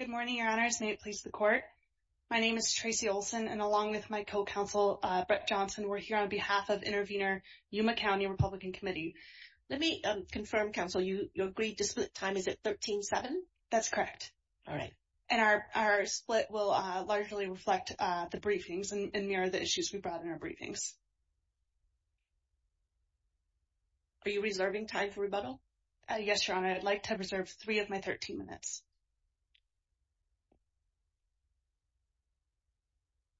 Good morning, your honors. May it please the court. My name is Tracy Olson, and along with my co-counsel Brett Johnson, we're here on behalf of intervener Yuma County Republican Committee. Let me confirm, counsel, you agreed to split time. Is it 13-7? That's correct. All right. And our split will largely reflect the briefings and mirror the issues we brought in our briefings. Are you reserving time for rebuttal? Yes, your honor. I'd like to reserve three of my 13 minutes.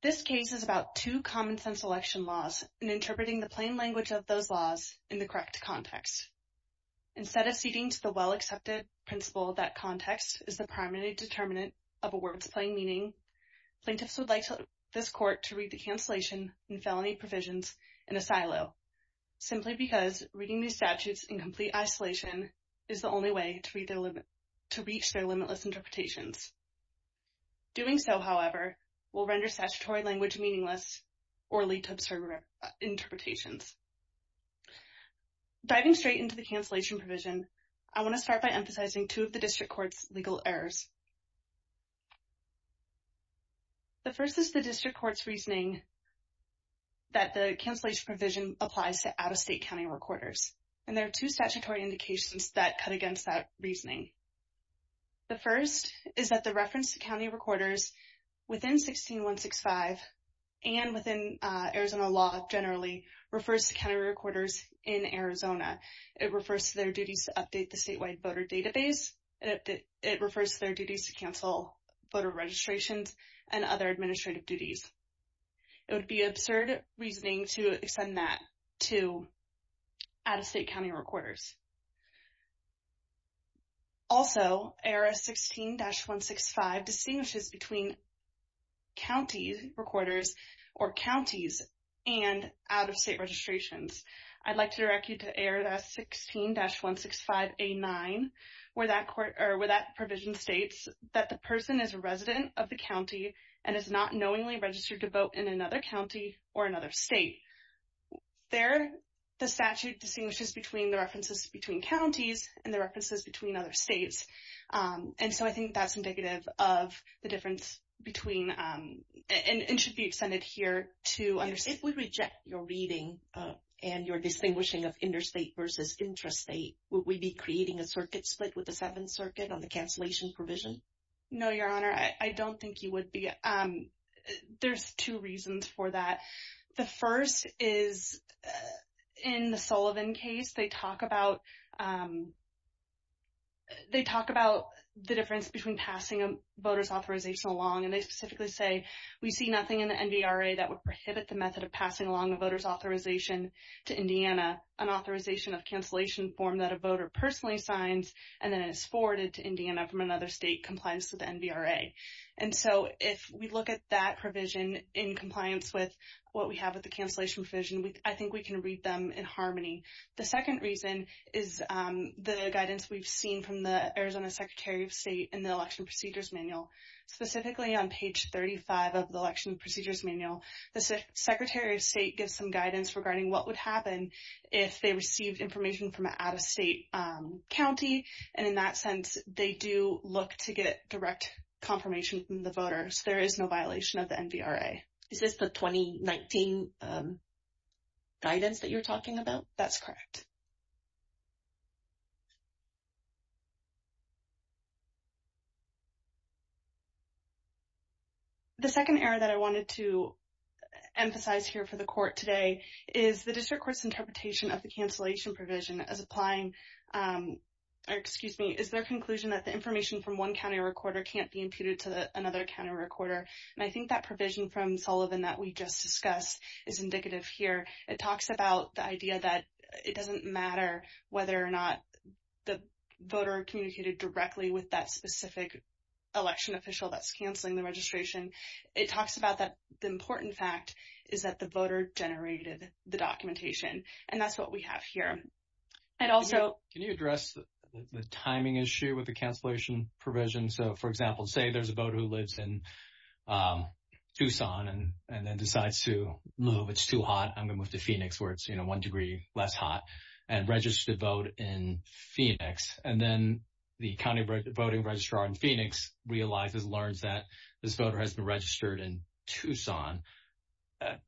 This case is about two common-sense election laws and interpreting the plain language of those laws in the correct context. Instead of ceding to the well-accepted principle that context is the primary determinant of a word's plain meaning, plaintiffs would like this court to read the cancellation and felony provisions in a silo, simply because reading these statutes in complete isolation is the only way to reach their limitless interpretations. Doing so, however, will render statutory language meaningless or lead to absurd interpretations. Diving straight into the cancellation provision, I want to start by emphasizing two of the district court's legal errors. The first is the district court's reasoning that the cancellation provision applies to out-of-state county recorders. And there are two statutory indications that cut against that reasoning. The first is that the reference to county recorders within 16165 and within Arizona law generally refers to county recorders in Arizona. It refers to their duties to update the statewide voter database. It refers to their duties to cancel voter registrations and other administrative duties. It would be absurd reasoning to accept more than that to out-of-state county recorders. Also, ARS 16-165 distinguishes between county recorders or counties and out-of-state registrations. I'd like to direct you to ARS 16-165A9, where that provision states that the person is a resident of the county and is not knowingly registered to vote in another county or another state. There, the statute distinguishes between the references between counties and the references between other states. And so I think that's indicative of the difference between and should be extended here to understand. If we reject your reading and your distinguishing of interstate versus intrastate, would we be creating a circuit split with the Seventh Circuit on the cancellation provision? No, Your Honor, I don't think you would be. There's two reasons for that. The first is in the Sullivan case, they talk about the difference between passing a voter's authorization along and they specifically say, we see nothing in the NVRA that would prohibit the method of passing along a voter's authorization to Indiana, an authorization of cancellation form that a voter personally signs and then is forwarded to Indiana from another state in compliance with the NVRA. And so if we look at that provision in compliance with what we have with the cancellation provision, I think we can read them in harmony. The second reason is the guidance we've seen from the Arizona Secretary of State in the Election Procedures Manual, specifically on page 35 of the Election Procedures Manual. The Secretary of State gives some guidance regarding what would happen if they received information from an out-of-state county. And in that sense, they do look to get direct confirmation from the voters. There is no violation of the NVRA. Is this the 2019 guidance that you're talking about? That's correct. The second error that I wanted to emphasize here for the Court today is the District Court's provision as applying, or excuse me, is their conclusion that the information from one county recorder can't be imputed to another county recorder. And I think that provision from Sullivan that we just discussed is indicative here. It talks about the idea that it doesn't matter whether or not the voter communicated directly with that specific election official that's canceling the registration. It talks about the important fact is that the voter generated the documentation. And that's what we have here. And also... Can you address the timing issue with the cancellation provision? So, for example, say there's a voter who lives in Tucson and then decides to move, it's too hot, I'm going to move to Phoenix where it's, you know, one degree less hot, and register to vote in Phoenix. And then the county voting registrar in Phoenix realizes, learns that this voter has been in Tucson.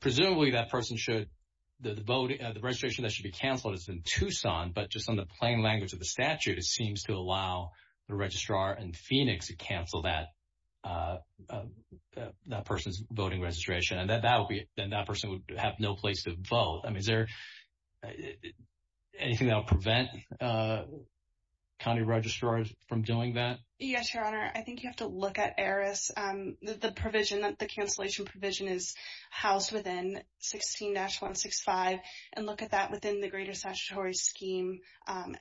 Presumably that person should, the registration that should be canceled is in Tucson, but just on the plain language of the statute, it seems to allow the registrar in Phoenix to cancel that person's voting registration. And then that person would have no place to vote. I mean, is there anything that will prevent county registrars from doing that? Yes, Your Honor. I think you have to look at the cancellation provision is housed within 16-165 and look at that within the greater statutory scheme. ARS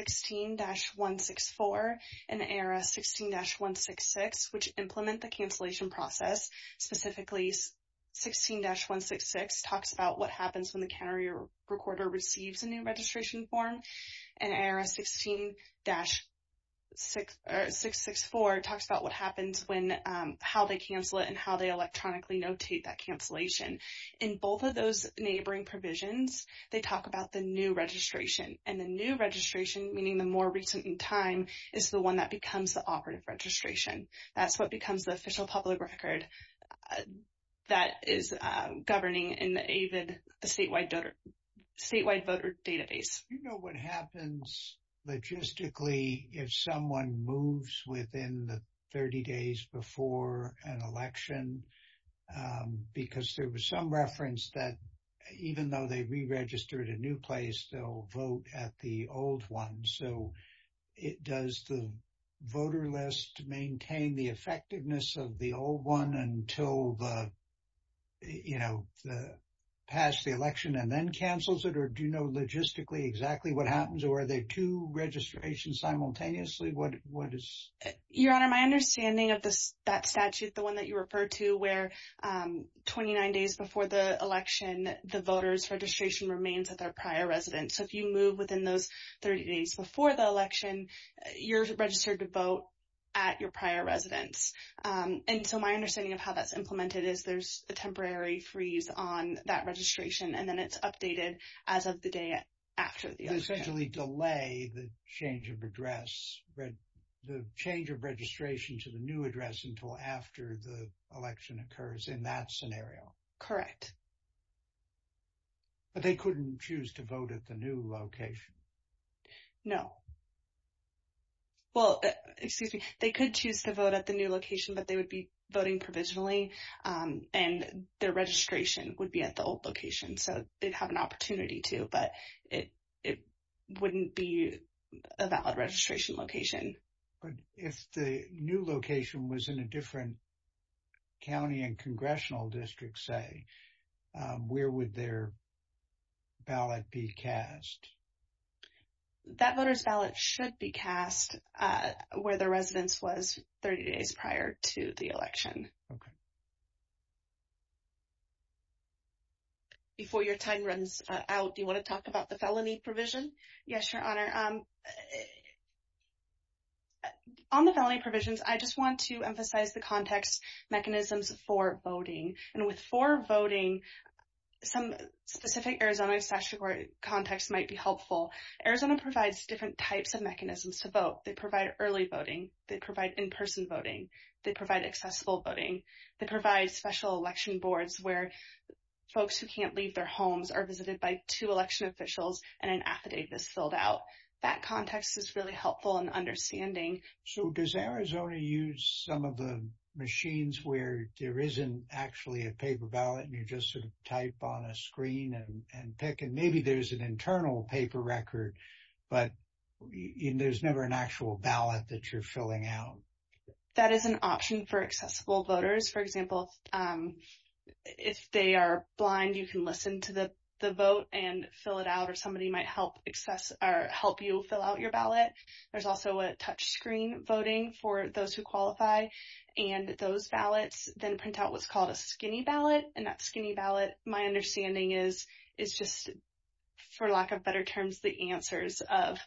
16-164 and ARS 16-166, which implement the cancellation process, specifically 16-166 talks about what happens when the county recorder receives a new registration form. And ARS 16-664 talks about what happens when, how they cancel it and how they electronically notate that cancellation. In both of those neighboring provisions, they talk about the new registration. And the new registration, meaning the more recent in time, is the one that becomes the operative registration. That's what becomes the official public record that is governing in the AVID statewide voter database. Do you know what happens logistically if someone moves within the 30 days before an election? Because there was some reference that even though they re-registered a new place, they'll vote at the old one. So, does the voter list maintain the effectiveness of the old one until, you know, past the election and then cancels it? Or do you know logistically exactly what happens? Or are there two registrations simultaneously? What is? Your Honor, my understanding of that statute, the one that you referred to where 29 days before the election, the voter's registration remains at their prior residence. So, if you move within those 30 days before the election, you're registered to vote at your prior residence. And so, my understanding of how that's implemented is there's a temporary freeze on that registration and then it's updated as of the day after the election. Essentially delay the change of address, the change of registration to the new address until after the election occurs in that scenario. Correct. But they couldn't choose to vote at the new location? No. Well, excuse me. They could choose to vote at the new location, but they would be voting provisionally. And their registration would be at the old location. So, they'd have an opportunity to, but it wouldn't be a valid registration location. But if the new location was in a different county and congressional district, say, where would their ballot be cast? That voter's ballot should be cast where the residence was 30 days prior to the election. Before your time runs out, do you want to talk about the felony provision? Yes, Your Honor. On the felony provisions, I just want to emphasize the context mechanisms for voting. And with for voting, some specific Arizona statutory context might be helpful. Arizona provides different types of mechanisms to vote. They provide early voting. They provide in-person voting. They provide accessible voting. They provide special election boards where folks who can't leave their homes are visited by two election officials and an affidavit is filled out. That context is really helpful in understanding. So, does Arizona use some of the machines where there isn't actually a paper ballot and you just sort of type on a screen and pick? And maybe there's an internal paper record, but there's never an actual ballot that you're filling out. That is an option for accessible voters. For example, if they are blind, you can listen to the vote and fill it out, or somebody might help help you fill out your ballot. There's also a touchscreen voting for those who qualify. And those ballots then print out what's called a skinny ballot. And that skinny ballot, my understanding is, is just, for lack of better terms, the answers of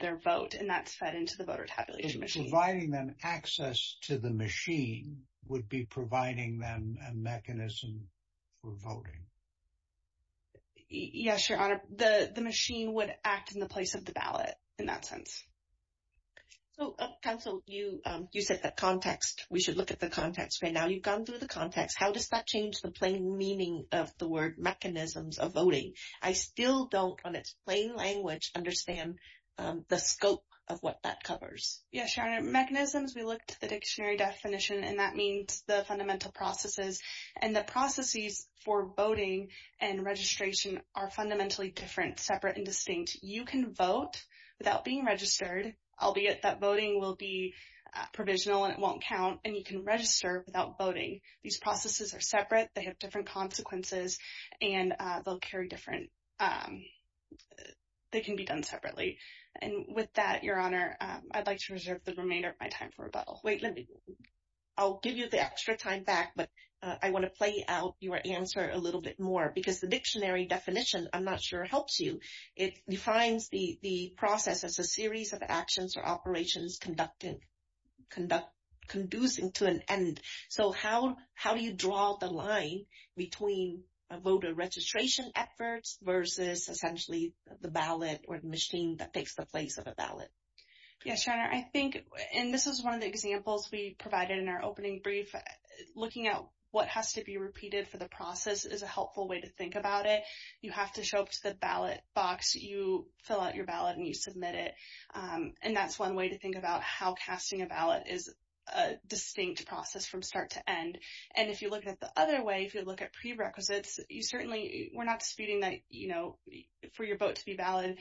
their vote, and that's fed into the voter tabulation machine. Providing them access to the machine would be providing them a mechanism for voting? Yes, Your Honor. The machine would act in the place of the ballot in that sense. So, Counsel, you said that context, we should look at the context right now. You've gone through the context. How does that change the plain meaning of the word mechanisms of voting? I still don't, on its plain language, understand the scope of what that covers. Yes, Your Honor. Mechanisms, we looked at the dictionary definition, and that means the fundamental processes. And the processes for voting and registration are fundamentally different, separate and distinct. You can vote without being registered, albeit that voting will be provisional and it won't count, and you can register without voting. These processes are separate, they have different consequences, and they'll carry different, they can be done separately. And with that, Your Honor, I'd like to reserve the remainder of my time for rebuttal. Wait, let me, I'll give you the extra time back, but I want to play out your answer a little bit more because the dictionary definition, I'm not sure, helps you. It defines the process as a series of actions or operations conducting, conducing to an end. So, how do you draw the line between voter registration efforts versus essentially the ballot or the machine that takes the place of a ballot? Yes, Your Honor, I think, and this is one of the examples we provided in our opening brief, looking at what has to be repeated for the process is a helpful way to think about it. You have to show up to the ballot box, you fill out your ballot, and you submit it. And that's one way to think about how casting a ballot is a distinct process from start to end. And if you look at the other way, if you look at prerequisites, you certainly, we're not disputing that, you know, for your vote to be valid,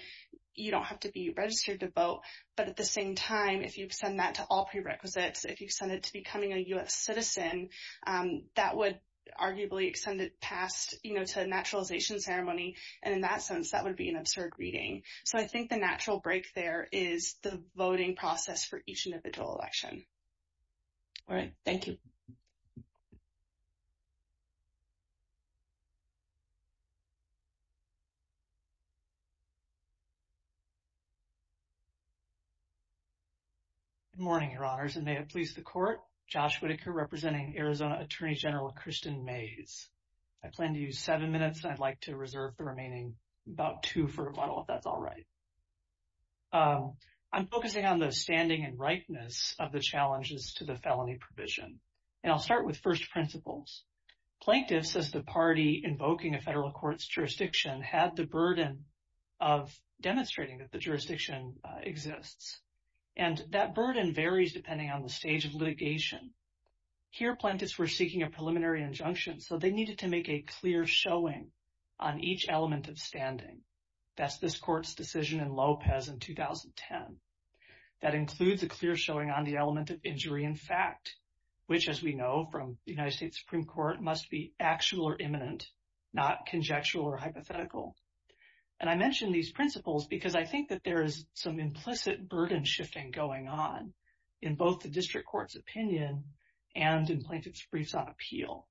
you don't have to be registered to vote. But at the same time, if you send that to all prerequisites, if you send it to becoming a U.S. citizen, that would arguably extend it past, you know, to a naturalization ceremony. And in that sense, that would be an absurd reading. So, I think the natural break there is the voting process for each individual election. All right. Thank you. Good morning, Your Honors, and may it please the Court. Josh Whitaker, representing Arizona Attorney General Kristen Mays. I plan to use seven minutes, and I'd like to reserve the remaining about two for a bottle if that's all right. So, I'm focusing on the standing and rightness of the challenges to the felony provision. And I'll start with first principles. Plaintiffs, as the party invoking a federal court's jurisdiction, had the burden of demonstrating that the jurisdiction exists. And that burden varies depending on the stage of litigation. Here, plaintiffs were seeking a preliminary injunction, so they needed to make a clear showing on each element of standing. That's this court's decision in Lopez in 2010. That includes a clear showing on the element of injury in fact, which, as we know from the United States Supreme Court, must be actual or imminent, not conjectural or hypothetical. And I mention these principles because I think that there is some implicit burden shifting going on in both the district court's opinion and in plaintiff's briefs on appeal.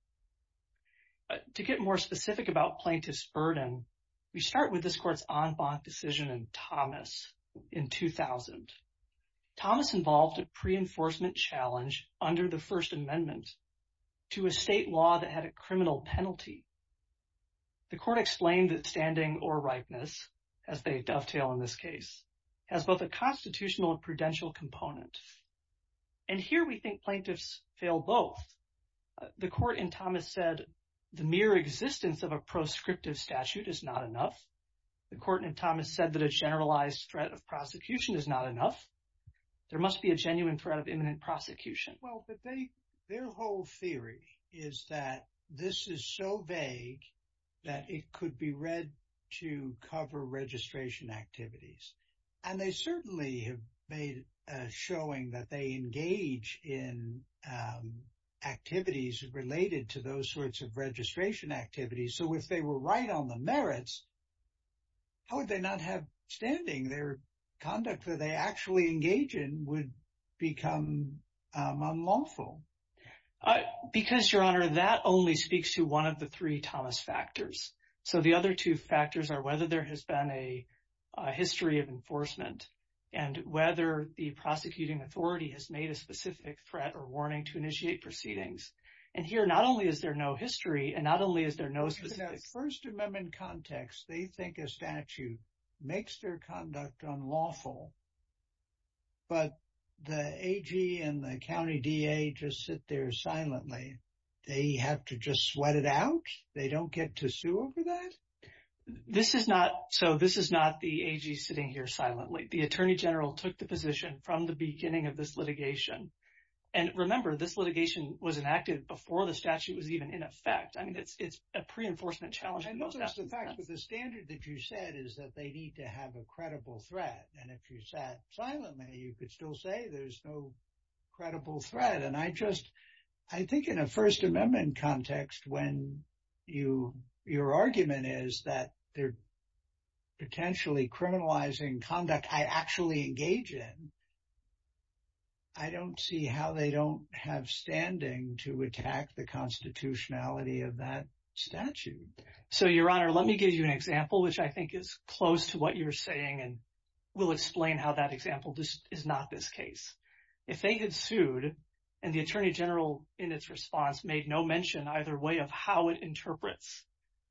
To get more specific about plaintiff's burden, we start with this court's en banc decision in Thomas in 2000. Thomas involved a pre-enforcement challenge under the First Amendment to a state law that had a criminal penalty. The court explained that standing or rightness, as they dovetail in this case, has both a constitutional and prudential component. And here we think plaintiffs fail both. The court in Thomas said the mere existence of a proscriptive statute is not enough. The court in Thomas said that a generalized threat of prosecution is not enough. There must be a genuine threat of imminent prosecution. Well, their whole theory is that this is so vague that it could be read to cover registration activities. And they certainly have made a showing that they engage in activities related to those sorts of registration activities. So, if they were right on the merits, how would they not have standing? Their conduct that they actually engage in would become unlawful. Because, Your Honor, that only speaks to one of the three Thomas factors. So, the other two factors are whether there has been a history of enforcement and whether the prosecuting authority has made a specific threat or warning to initiate proceedings. And here, not only is there no history and not only is there no specific... In that First Amendment context, they think a statute makes their conduct unlawful, but the AG and the county DA just sit there silently. They have to just sweat it out? They don't get to sue over that? So, this is not the AG sitting here silently. The Attorney General took the position from the beginning of this litigation. And remember, this litigation was enacted before the statute was even in effect. I mean, it's a pre-enforcement challenge. I know that's the fact, but the standard that you said is that they need to have a credible threat. And if you sat silently, you could still say there's no credible threat. And I just... I think in a First Amendment context, when your argument is that they're potentially criminalizing conduct I actually engage in, I don't see how they don't have standing to attack the constitutionality of that statute. So, Your Honor, let me give you an example, which I think is close to what you're saying and will explain how that example is not this case. If they had sued and the Attorney General, in its response, made no mention either way of how it interprets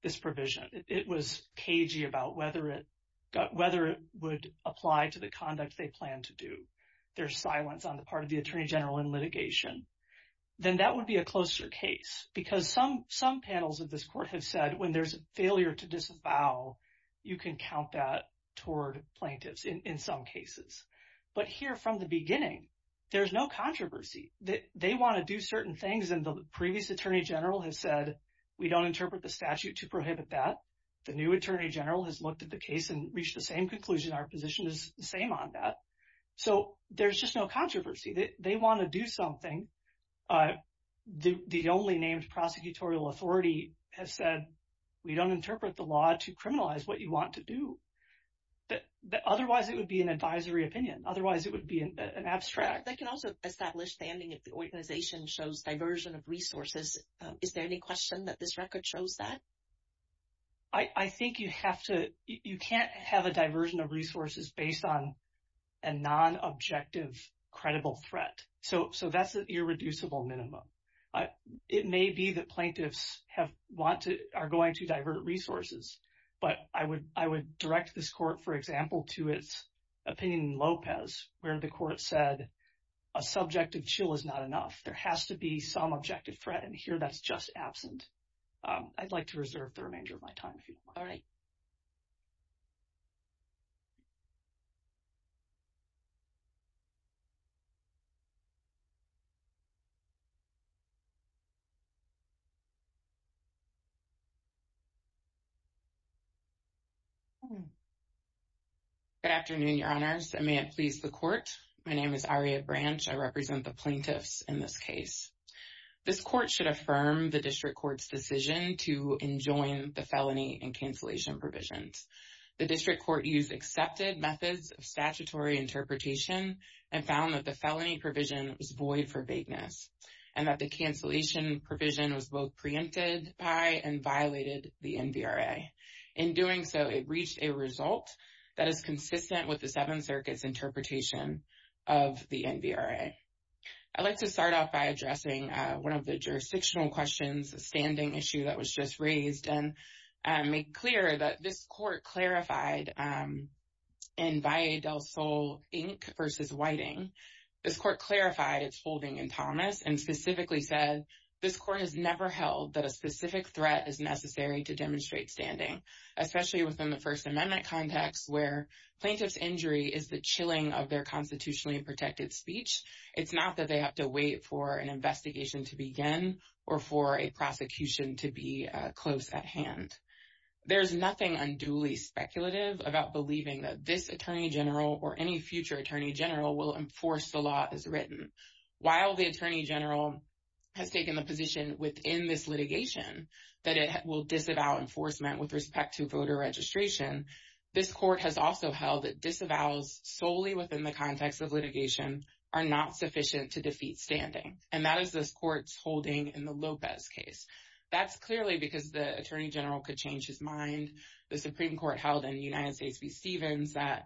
this provision, it was cagey about whether it would apply to the conduct they plan to do, their silence on the part of the Attorney General in litigation, then that would be a closer case. Because some panels of this court have said when there's a failure to disavow, you can count that toward plaintiffs in some cases. But here from the beginning, there's no controversy. They want to do certain things and the previous Attorney General has said, we don't interpret the statute to prohibit that. The new Attorney General has looked at the case and reached the same conclusion. Our position is the same on that. So, there's just no controversy. They want to do something. The only named prosecutorial authority has said, we don't interpret the law to criminalize what you want to do. Otherwise, it would be an advisory opinion. Otherwise, it would be an abstract. They can also establish standing if the organization shows diversion of resources. Is there any question that this record shows that? I think you have to, you can't have a diversion of resources based on a non-objective credible threat. So, that's an irreducible minimum. It may be that plaintiffs are going to divert resources. But I would direct this court, for example, to its Lopez where the court said, a subjective chill is not enough. There has to be some objective threat and here that's just absent. I'd like to reserve the remainder of my time if you don't mind. All right. Good afternoon, your honors. And may it please the court. My name is Aria Branch. I represent the plaintiffs in this case. This court should affirm the district court's decision to enjoin the felony and cancellation provisions. The district court used accepted methods of statutory interpretation and found that the felony provision was void for vagueness and that the cancellation provision was both preempted by and violated the NVRA. In doing so, it reached a result that is consistent with the Seventh Circuit's interpretation of the NVRA. I'd like to start off by addressing the jurisdictional questions, the standing issue that was just raised, and make clear that this court clarified in Valle del Sol, Inc. v. Whiting. This court clarified its holding in Thomas and specifically said, this court has never held that a specific threat is necessary to demonstrate standing, especially within the First Amendment context where plaintiff's injury is the chilling of their constitutionally protected speech. It's not that they have to wait for an investigation to begin or for a prosecution to be close at hand. There's nothing unduly speculative about believing that this attorney general or any future attorney general will enforce the law as written. While the attorney general has taken the position within this litigation that it will disavow enforcement with respect to voter registration, this court has also held that disavows solely within the holding in the Lopez case. That's clearly because the attorney general could change his mind. The Supreme Court held in United States v. Stevens that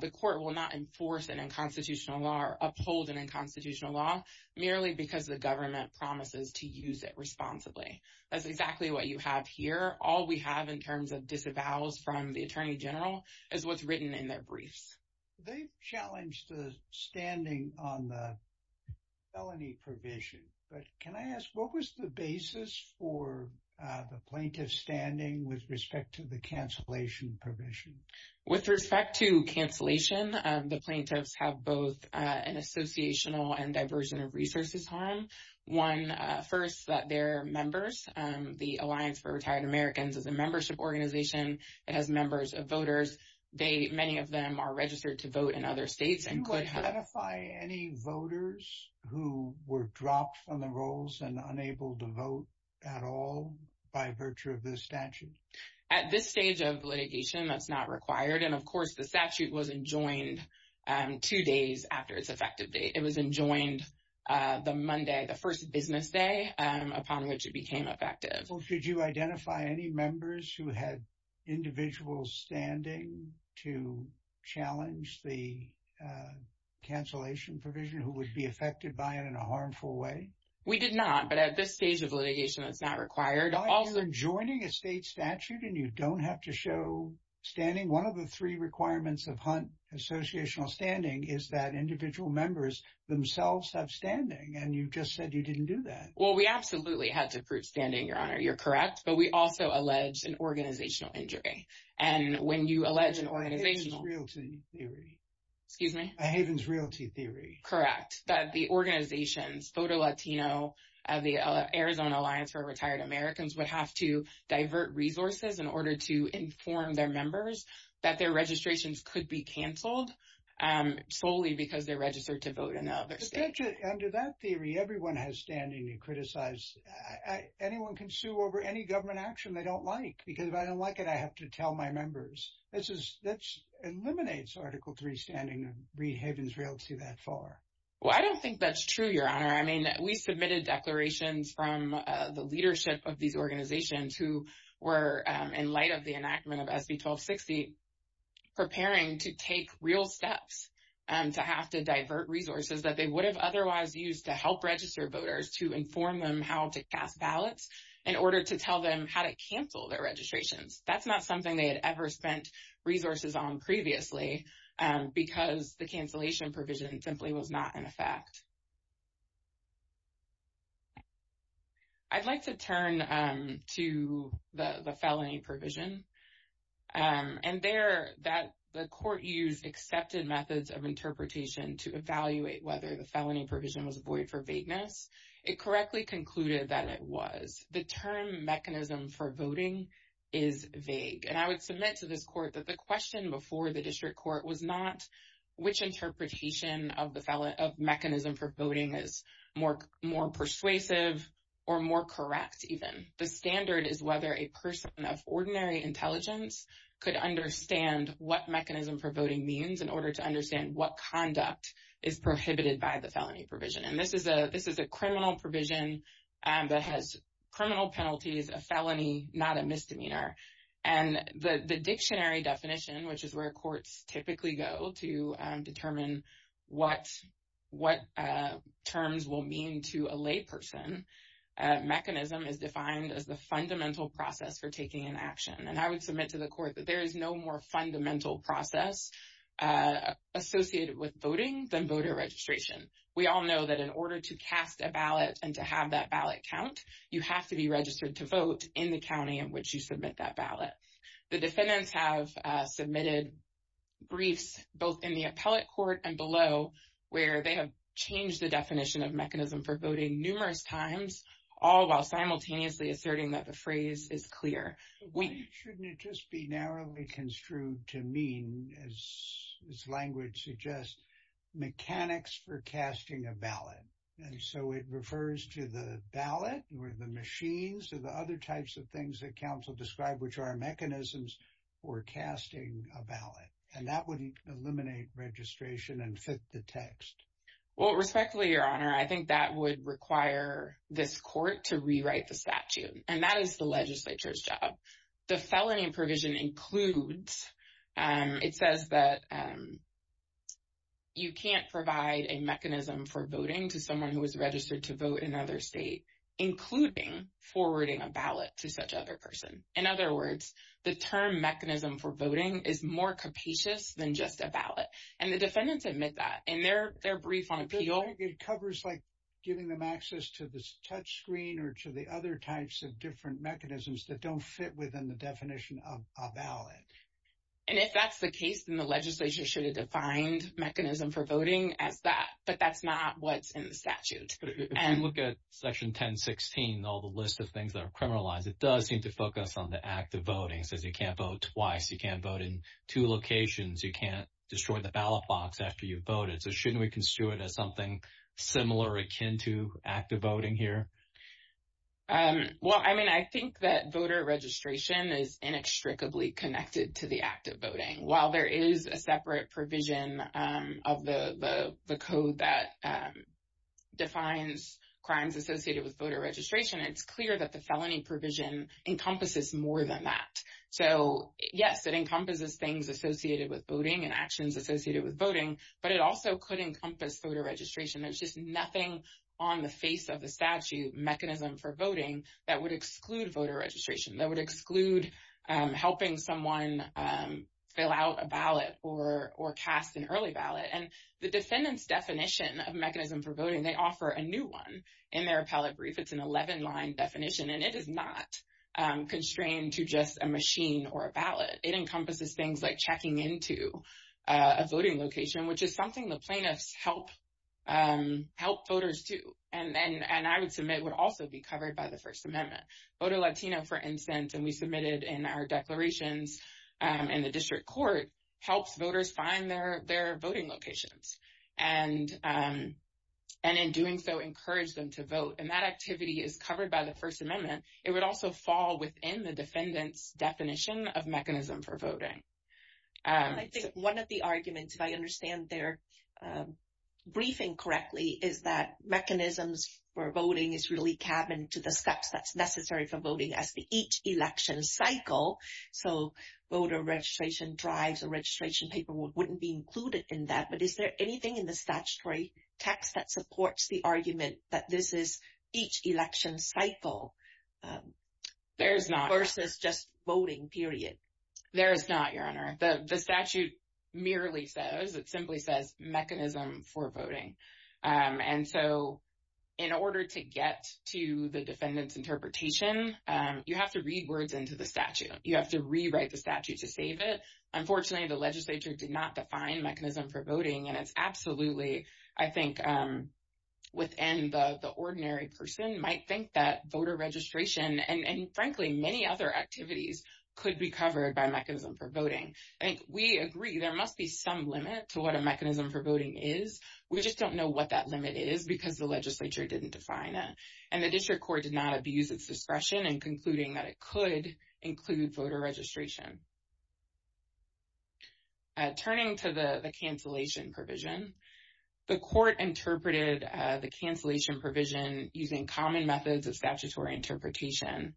the court will not enforce an unconstitutional law or uphold an unconstitutional law merely because the government promises to use it responsibly. That's exactly what you have here. All we have in terms of disavows from the attorney general is what's written in their briefs. They've challenged the standing on the felony provision. But can I ask, what was the basis for the plaintiff's standing with respect to the cancellation provision? With respect to cancellation, the plaintiffs have both an associational and diversion of resources harm. One, first, that their members, the Alliance for Many of them are registered to vote in other states. Do you identify any voters who were dropped from the rolls and unable to vote at all by virtue of this statute? At this stage of litigation, that's not required. Of course, the statute was enjoined two days after its effective date. It was enjoined the Monday, the first business day upon which it became effective. Did you identify any members who had individual standing to challenge the cancellation provision who would be affected by it in a harmful way? We did not. But at this stage of litigation, that's not required. You're enjoining a state statute and you don't have to show standing. One of the three requirements of Hunt associational standing is that individual members themselves have standing. And you just said you didn't do that. Well, we absolutely had to prove standing, Your Honor. You're correct. But we also allege an organizational injury. And when you allege an organizational... A Havens Realty Theory. Excuse me? A Havens Realty Theory. Correct. That the organizations, Voto Latino, the Arizona Alliance for Retired Americans, would have to divert resources in order to inform their members that their registrations could be canceled solely because they're registered to vote in the other state. Under that theory, everyone has standing to criticize. Anyone can sue over any government action they don't like. Because if I don't like it, I have to tell my members. This eliminates Article 3 standing and read Havens Realty that far. Well, I don't think that's true, Your Honor. I mean, we submitted declarations from the leadership of these organizations who were, in light of the enactment of SB 1260, preparing to take real steps to have to divert resources that they would have otherwise used to help register voters to inform them how to cast ballots in order to tell them how to cancel their registrations. That's not something they had ever spent resources on previously because the cancellation provision simply was not in effect. I'd like to turn to the felony provision. And there, that the court used accepted methods of interpretation to evaluate whether the felony provision was void for vagueness. It correctly concluded that it was. The term mechanism for voting is vague. And I would submit to this court that the question before the district court was not which interpretation of mechanism for voting is more persuasive or more correct even. The standard is whether a person of ordinary intelligence could understand what mechanism for voting means in order to understand what conduct is prohibited by the felony provision. And this is a criminal provision that has criminal penalties, a felony, not a misdemeanor. And the dictionary definition, which is where courts typically go to determine what terms will mean to a lay person, mechanism is defined as the fundamental process for taking an action. And I would submit to the court that there is no more fundamental process associated with voting than voter registration. We all know that in order to cast a ballot and to have that ballot count, you have to be registered to vote in the county in which you submit that ballot. The defendants have submitted briefs both in the appellate court and below where they have changed the definition of mechanism for voting numerous times, all while simultaneously asserting that the phrase is clear. We shouldn't just be narrowly construed to mean as its language suggests mechanics for casting a ballot. And so it refers to the ballot or the mechanisms for casting a ballot. And that would eliminate registration and fit the text. Well, respectfully, Your Honor, I think that would require this court to rewrite the statute. And that is the legislature's job. The felony provision includes, it says that you can't provide a mechanism for voting to someone who is registered to vote in other state, including forwarding a ballot to such other person. In other words, the term mechanism for voting is more capacious than just a ballot. And the defendants admit that in their brief on appeal. It covers like giving them access to this touch screen or to the other types of different mechanisms that don't fit within the definition of a ballot. And if that's the case, then the legislature should have defined mechanism for voting as that. But that's not what's in the statute. But if you look at section 1016, all the list of things that are criminalized, it does seem to focus on the act of voting. It says you can't vote twice, you can't vote in two locations, you can't destroy the ballot box after you've voted. So shouldn't we construe it as something similar akin to active voting here? Well, I mean, I think that voter registration is inextricably connected to the act of voting. While there is a separate provision of the code that defines crimes associated with voter registration, it's clear that the felony provision encompasses more than that. So yes, it encompasses things associated with voting and actions associated with voting, but it also could encompass voter registration. There's just nothing on the face of the statute mechanism for voting that would exclude voter registration, that would exclude helping someone fill out a ballot or cast an early ballot. And the defendant's definition of mechanism for voting, they offer a new one in their appellate brief. It's an 11-line definition, and it is not constrained to just a machine or a ballot. It encompasses things like checking into a voting location, which is something the plaintiffs help voters do, and I would submit in our declarations in the district court, helps voters find their voting locations, and in doing so, encourage them to vote. And that activity is covered by the First Amendment. It would also fall within the defendant's definition of mechanism for voting. I think one of the arguments, if I understand their briefing correctly, is that mechanisms for voting is really cabined to the steps that's necessary for voting as to each election cycle. So voter registration drives or registration paperwork wouldn't be included in that, but is there anything in the statutory text that supports the argument that this is each election cycle versus just voting, period? There is not, Your Honor. The statute merely says, mechanism for voting, and so in order to get to the defendant's interpretation, you have to read words into the statute. You have to rewrite the statute to save it. Unfortunately, the legislature did not define mechanism for voting, and it's absolutely, I think, within the ordinary person might think that voter registration and, frankly, many other activities could be covered by mechanism for voting. I think we agree there must be some limit to what a mechanism for voting is. We just don't know what that limit is because the legislature didn't define it. And the district court did not abuse its discretion in concluding that it could include voter registration. Turning to the cancellation provision, the court interpreted the cancellation provision using common methods of statutory interpretation.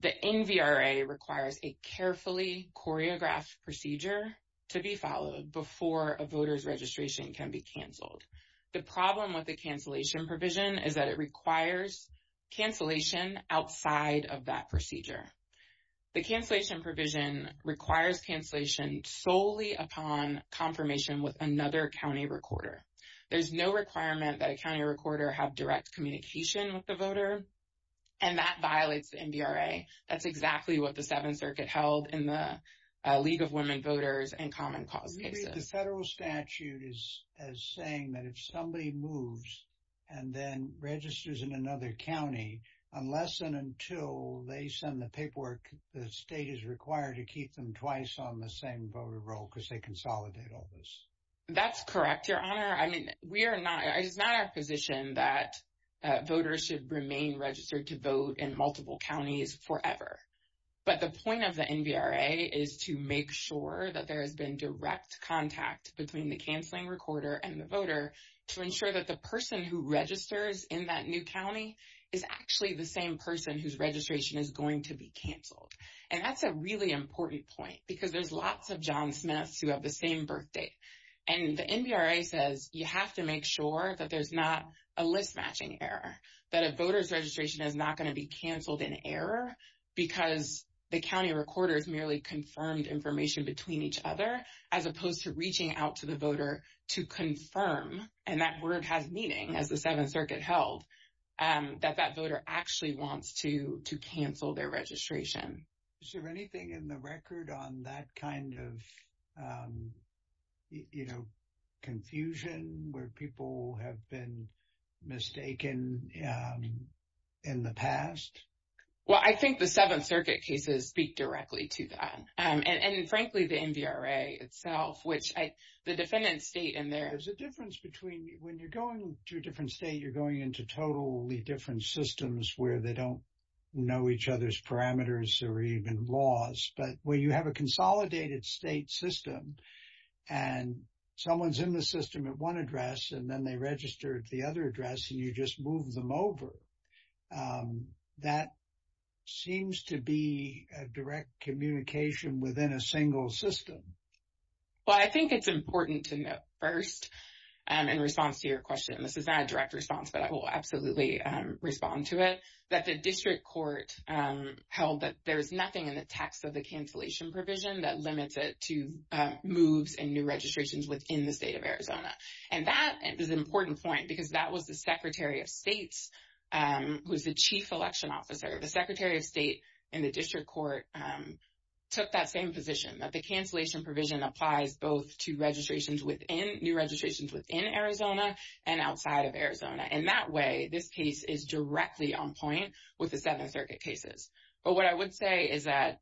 The NVRA requires a carefully choreographed procedure to be followed before a voter's registration can be canceled. The problem with the cancellation provision is that it requires cancellation outside of that procedure. The cancellation provision requires cancellation solely upon confirmation with another county recorder. There's no requirement that a county recorder have direct communication with the voter, and that violates the NVRA. That's exactly what the Seventh Circuit held in the League of Women Voters and Common Cause cases. The federal statute is saying that if somebody moves and then registers in another county, unless and until they send the paperwork, the state is required to keep them twice on the same voter roll because they consolidate all this. That's correct, Your Honor. I mean, it is not our position that voters should remain registered to vote in multiple counties forever. But the point of the NVRA is to make sure that there has been direct contact between the canceling recorder and the voter to ensure that the person who registers in that new county is actually the same person whose registration is going to be canceled. And that's a really important point because there's lots of John Smiths who have the same birth date. And the NVRA says you have to make sure that there's not a list matching error, that a voter's registration is not going to be canceled in error because the county recorders merely confirmed information between each other as opposed to reaching out to the voter to confirm, and that word has meaning as the Seventh Circuit held, that that voter actually wants to cancel their registration. Is there anything in the record on that kind of, you know, confusion where people have been mistaken in the past? Well, I think the Seventh Circuit cases speak directly to that. And frankly, the NVRA itself, which the defendant's state in there... There's a difference between when you're going to a different state, you're going into totally different systems where they don't know each other's parameters or even laws. But when you have a consolidated state system and someone's in the system at one address and then they register at the other address and you just move them over, that seems to be a direct communication within a single system. Well, I think it's important to note first, in response to your question, this is not a direct response, but I will absolutely respond to it, that the district court held that there's nothing in the text of the cancellation provision that limits it to moves and new registrations within the state of Arizona. And that is an important point, because that was the Secretary of State, who was the chief election officer. The Secretary of State in the district court took that same position, that the cancellation provision applies both to registrations within, new registrations within Arizona and outside of Arizona. And that way, this case is directly on point with the Seventh Circuit cases. But what I would say is that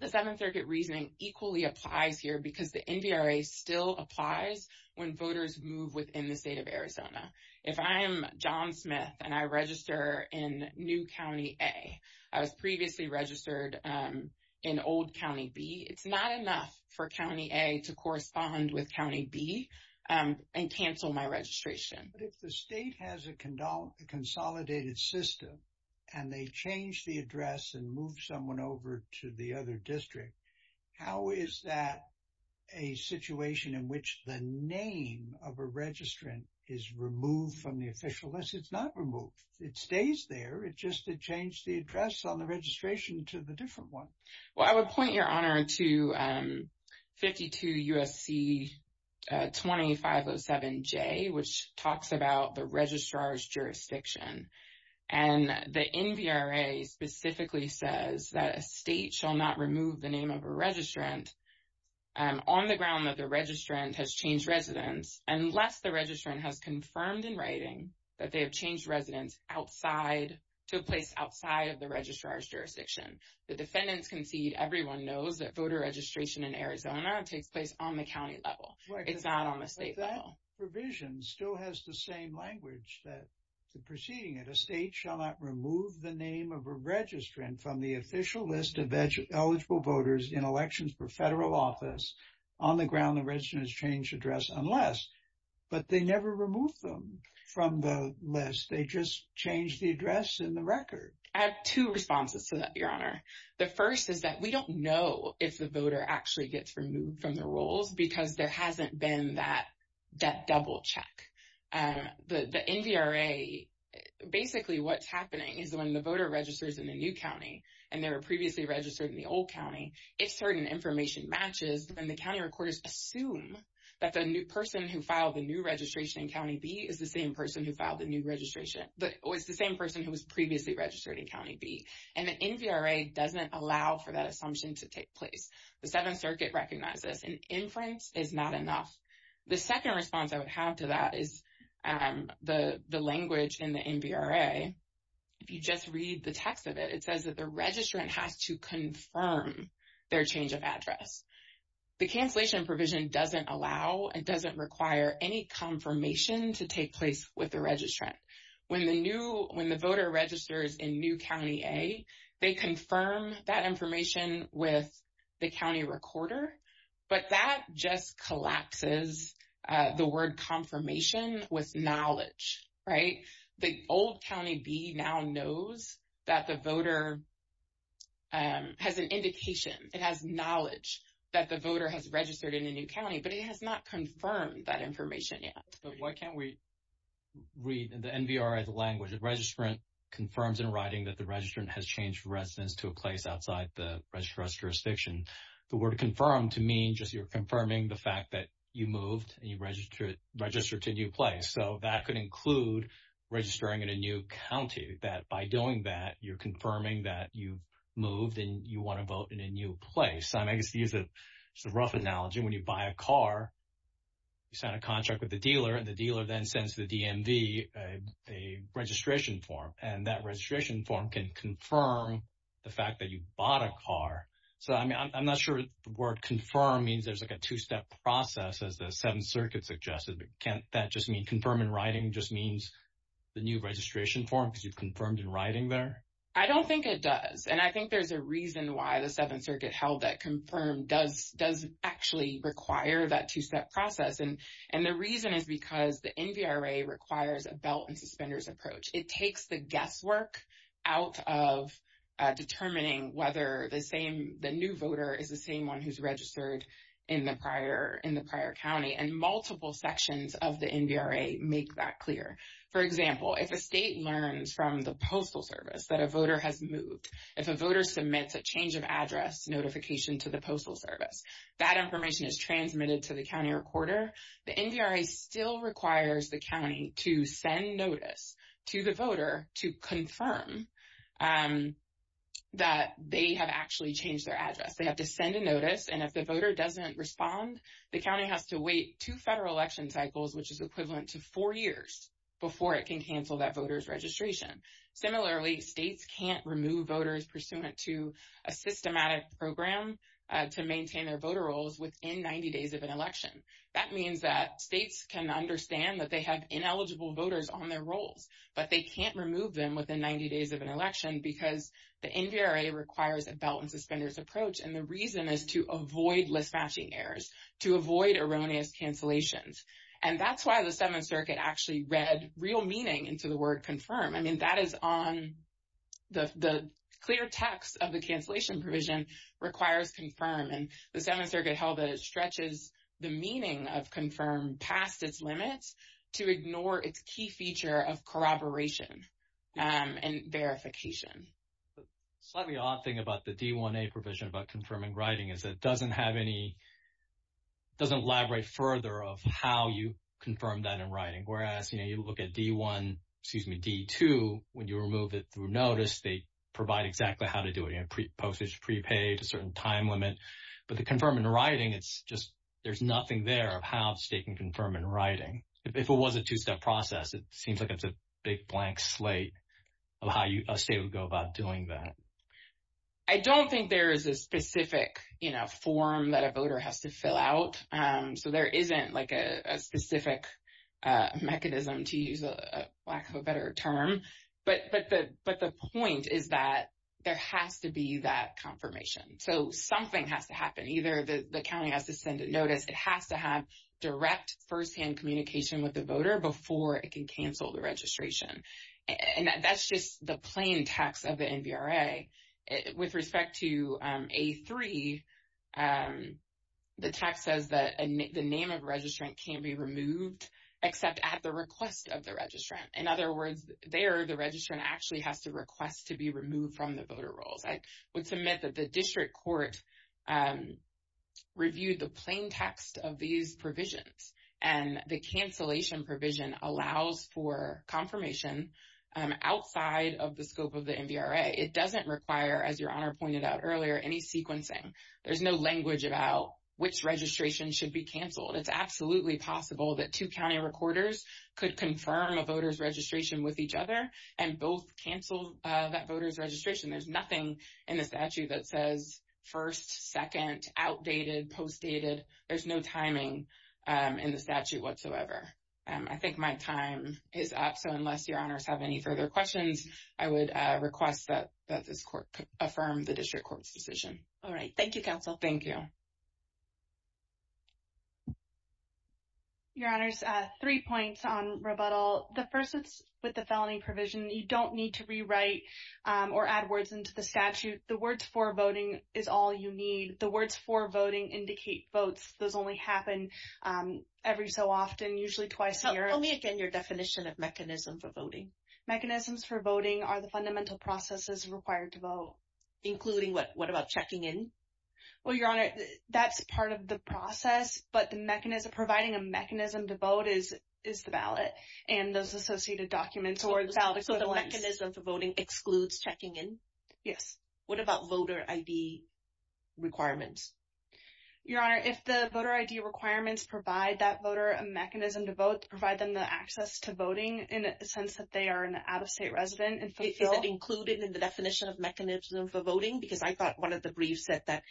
the Seventh Circuit reasoning equally applies here because the NVRA still applies when voters move within the state of Arizona. If I am John Smith and I register in new County A, I was previously registered in old County B, it's not enough for County A to correspond with County B and cancel my registration. But if the state has a consolidated system and they change the address and move someone over to the other district, how is that a situation in which the name of a registrant is removed from the official list? It's not removed. It stays there. It just changed the address on the registration to the different one. Well, I would point your honor to 52 U.S.C. 20-507-J, which talks about the registrar's jurisdiction. And the NVRA specifically says that a state shall not remove the name of a registrant on the ground that the registrant has changed residence unless the registrant has confirmed in writing that they have changed residence to a place outside of the registrar's jurisdiction. The defendants concede everyone knows that voter registration in Arizona takes place on the county level. It's not on the state level. But that provision still has the same language that the proceeding at a state shall not remove the name of a registrant from the official list of eligible voters in elections per federal office on the ground the registrant has changed address unless. But they never removed them from the list. They just changed the address in the record. I have two responses to that, your honor. The first is that we don't know if the voter actually gets removed from the rolls because there hasn't been that double check. The NVRA, basically what's happening is when the voter registers in a new county and they were previously registered in the old county, if certain information matches, then the county recorders assume that the new person who filed the new registration in county B is the same person who filed the new registration but was the same person who was previously registered in county B. And the NVRA doesn't allow for that assumption to take place. The Seventh Circuit recognizes an inference is not enough. The second response I would have to that is the language in the NVRA. If you just read the text of it, it says that the registrant has to confirm their change of address. The cancellation provision doesn't allow and doesn't require any confirmation to take place with the registrant. When the voter registers in new county A, they confirm that information with the county recorder. But that just collapses the word confirmation with knowledge, right? The old county B now knows that the voter has an indication. It has knowledge that the voter has registered in a new county, but it has not confirmed that information yet. But why can't we read the NVRA as a language? The registrant confirms in writing that the registrant has changed residence to a place outside the registrar's jurisdiction. The word confirmed to mean just you're confirming the fact that you moved and you registered to a new place. That could include registering in a new county. By doing that, you're confirming that you've moved and you want to vote in a new place. I guess to use a rough analogy, when you buy a car, you sign a contract with the dealer and the dealer then sends the DMV a registration form. That registration form can confirm the fact that you bought a car. I'm not sure the word in writing just means the new registration form because you've confirmed in writing there. I don't think it does. I think there's a reason why the Seventh Circuit held that confirmed does actually require that two-step process. The reason is because the NVRA requires a belt and suspenders approach. It takes the guesswork out of determining whether the new voter is the clear. For example, if a state learns from the Postal Service that a voter has moved, if a voter submits a change of address notification to the Postal Service, that information is transmitted to the county recorder. The NVRA still requires the county to send notice to the voter to confirm that they have actually changed their address. They have to send a notice. If the voter doesn't respond, the county has to wait two federal election cycles, which is equivalent to four years, before it can cancel that voter's registration. Similarly, states can't remove voters pursuant to a systematic program to maintain their voter rolls within 90 days of an election. That means that states can understand that they have ineligible voters on their rolls, but they can't remove them within 90 days of an election because the NVRA requires a belt and suspenders approach. The reason is to avoid mismatching errors, to avoid erroneous cancellations, and that's why the Seventh Circuit actually read real meaning into the word confirm. I mean, that is on the clear text of the cancellation provision, requires confirm, and the Seventh Circuit held that it stretches the meaning of confirm past its limits to ignore its key feature of corroboration and verification. Slightly odd thing about the D1A provision about confirming writing is that it doesn't have any, doesn't elaborate further of how you confirm that in writing, whereas, you know, you look at D1, excuse me, D2, when you remove it through notice, they provide exactly how to do it, you know, postage prepaid, a certain time limit, but the confirm in writing, it's just, there's nothing there of how a state can confirm in writing. If it was a two-step process, it seems like it's a big blank slate of how a state would go about doing that. I don't think there is a specific, you know, form that a voter has to fill out, so there isn't like a specific mechanism, to use a lack of a better term, but the point is that there has to be that confirmation. So, something has to happen, either the county has to send a notice, it has to have direct firsthand communication with the voter before it can cancel the registration, and that's just the plain text of the NVRA. With respect to A3, the text says that the name of a registrant can't be removed, except at the request of the registrant. In other words, there, the registrant actually has to request to be removed from the voter rolls. I would submit that the district court reviewed the plain text of these provisions, and the cancellation provision allows for confirmation outside of the scope of the NVRA. It doesn't require, as Your Honor pointed out earlier, any sequencing. There's no language about which registration should be canceled. It's absolutely possible that two county recorders could confirm a voter's registration with each other and both cancel that voter's registration. There's nothing in the statute that says first, second, outdated, postdated. There's no timing in the statute whatsoever. I think my time is up, so unless Your Honors have any further questions, I would request that this court affirm the district court's decision. All right. Thank you, Counsel. Thank you. Your Honors, three points on rebuttal. The first is with the felony provision. You don't need to rewrite or add words into the statute. The words for voting is all you need. The words for voting indicate votes. Those only happen every so often, usually twice a year. Tell me again your definition of mechanism for voting. Mechanisms for voting are the fundamental processes required to vote. Including what? What about checking in? Well, Your Honor, that's part of the process, but providing a mechanism to vote is the ballot and those associated documents. So the mechanism for voting excludes checking in? Yes. What about voter ID requirements? Your Honor, if the voter ID requirements provide that voter a mechanism to vote, provide them the access to voting in a sense that they are an out-of-state resident and fulfilled. Is that included in the definition of mechanism for voting? Because I thought one of the briefs said that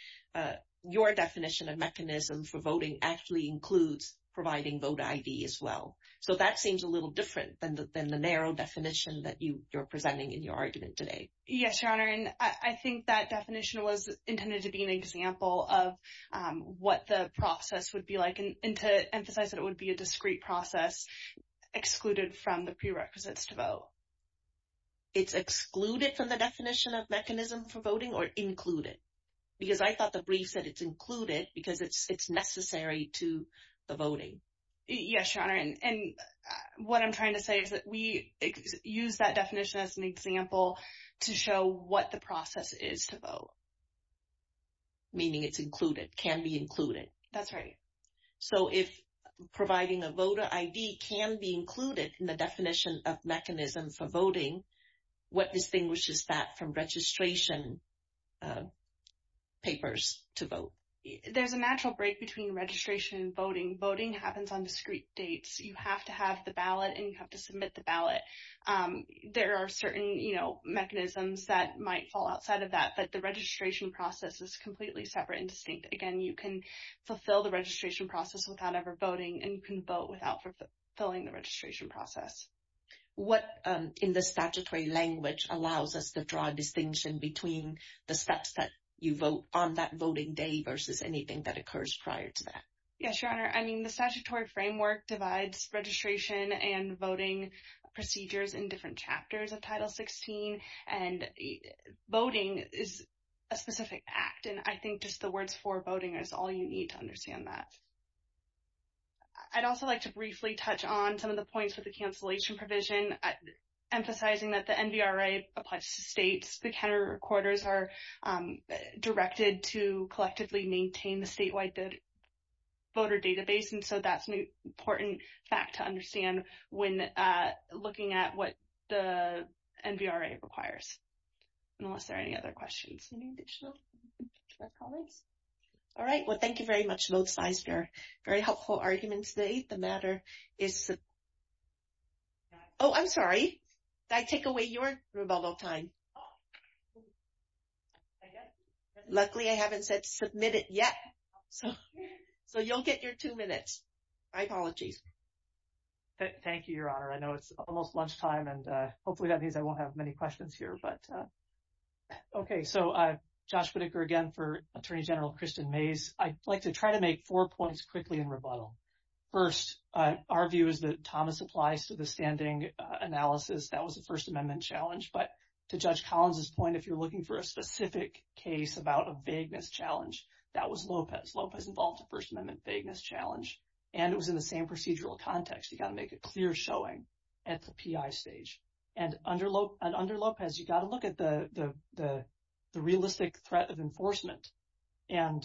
your definition of mechanism for voting actually includes providing voter ID as well. So that seems a little different than the narrow definition that you're presenting in your argument today. Yes, Your Honor, and I think that definition was intended to be an example of what the process would be like and to emphasize that it would be a discrete process excluded from the prerequisites to vote. It's excluded from the definition of mechanism for voting or included? Because I thought the brief said it's included because it's necessary to the voting. Yes, Your Honor, and what I'm trying to say is that we use that definition as an example to show what the process is to vote. Meaning it's included, can be included. That's right. So if providing a voter ID can be included in the definition of mechanism for voting, what distinguishes that from registration papers to vote? There's a natural break between registration and voting. Voting happens on discrete dates. You have to have the ballot and you have to submit the ballot. There are certain mechanisms that might fall outside of that, but the registration process is completely separate and distinct. Again, you can fulfill the registration process without ever voting, and you can vote without fulfilling the registration process. What in the statutory language allows us to draw a distinction between the steps that you vote on that voting day versus anything that occurs prior to that? Yes, Your Honor, I mean, the statutory framework divides registration and voting procedures in different chapters of Title 16, and voting is a specific act, and I think just the words for voting is all you need to understand that. I'd also like to briefly touch on some of the points with the cancellation provision, emphasizing that the NVRA applies to states. The counter recorders are directed to collectively maintain the statewide voter database, and so that's an important fact to understand when looking at what the NVRA requires, unless there are any other questions. Any additional comments? All right. Well, thank you very much, both sides. They're very helpful arguments. The eighth matter is... Oh, I'm sorry. I take away your rubato time. I guess... Luckily, I haven't said submit it yet, so you'll get your two minutes. My apologies. Thank you, Your Honor. I know it's almost lunchtime, and hopefully that means I won't have many questions here, but... Okay, so Josh Whitaker again for Attorney General Kristen Mays. I'd like to try to make four points quickly in rebuttal. First, our view is that Thomas applies to the standing analysis. That was a First Amendment challenge. But to Judge Collins's point, if you're looking for a specific case about a vagueness challenge, that was Lopez. Lopez involved a First Amendment vagueness challenge, and it was in the same procedural context. You got to make a clear showing at the PI stage. And under Lopez, you got to look at the realistic threat of enforcement. And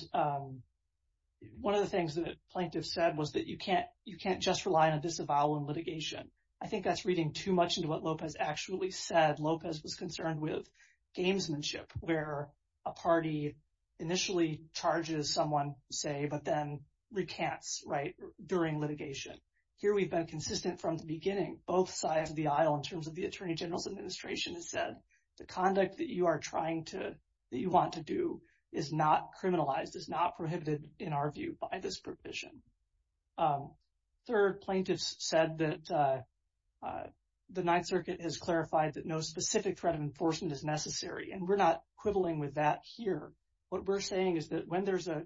one of the things that the plaintiff said was that you can't just rely on a disavowal in litigation. I think that's reading too much into what Lopez actually said. Lopez was concerned with gamesmanship, where a party initially charges someone, say, but then recants, right, during litigation. Here, we've been consistent from the beginning. Both sides of the aisle, in terms of the Attorney General's administration, has said the conduct that you want to do is not criminalized, is not prohibited, in our view, by this provision. Third, plaintiffs said that the Ninth Circuit has clarified that no specific threat of enforcement is necessary. And we're not quibbling with that here. What we're saying is that when there's a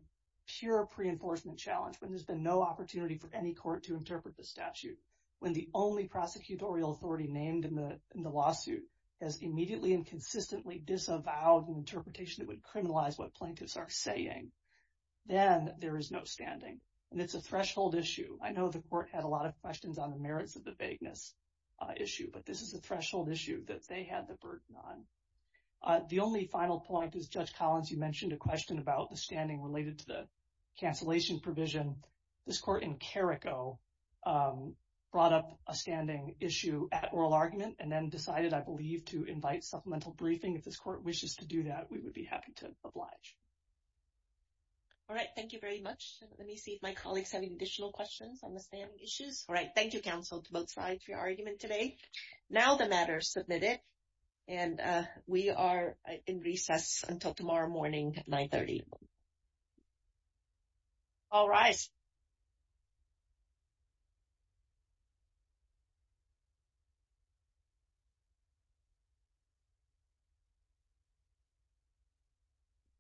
pure pre-enforcement challenge, when there's been no opportunity for any court to interpret the statute, when the only prosecutorial authority named in the lawsuit has immediately and consistently disavowed an interpretation that would criminalize what plaintiffs are saying, then there is no standing. And it's a threshold issue. I know the court had a lot of questions on the merits of the vagueness issue, but this is a threshold issue that they had the burden on. The only final point is, Judge Collins, you mentioned a question about the standing related to the cancellation provision. This court in Carrico brought up a standing issue at oral argument and then decided, I believe, to invite supplemental briefing. If this court wishes to do that, we would be happy to oblige. All right. Thank you very much. Let me see if my colleagues have any additional questions on the standing issues. All right. Thank you, counsel, to both sides for your argument today. Now the matter is submitted. And we are in recess until tomorrow morning at 9.30. All rise.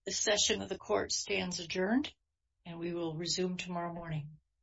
The session of the court stands adjourned, and we will resume tomorrow morning.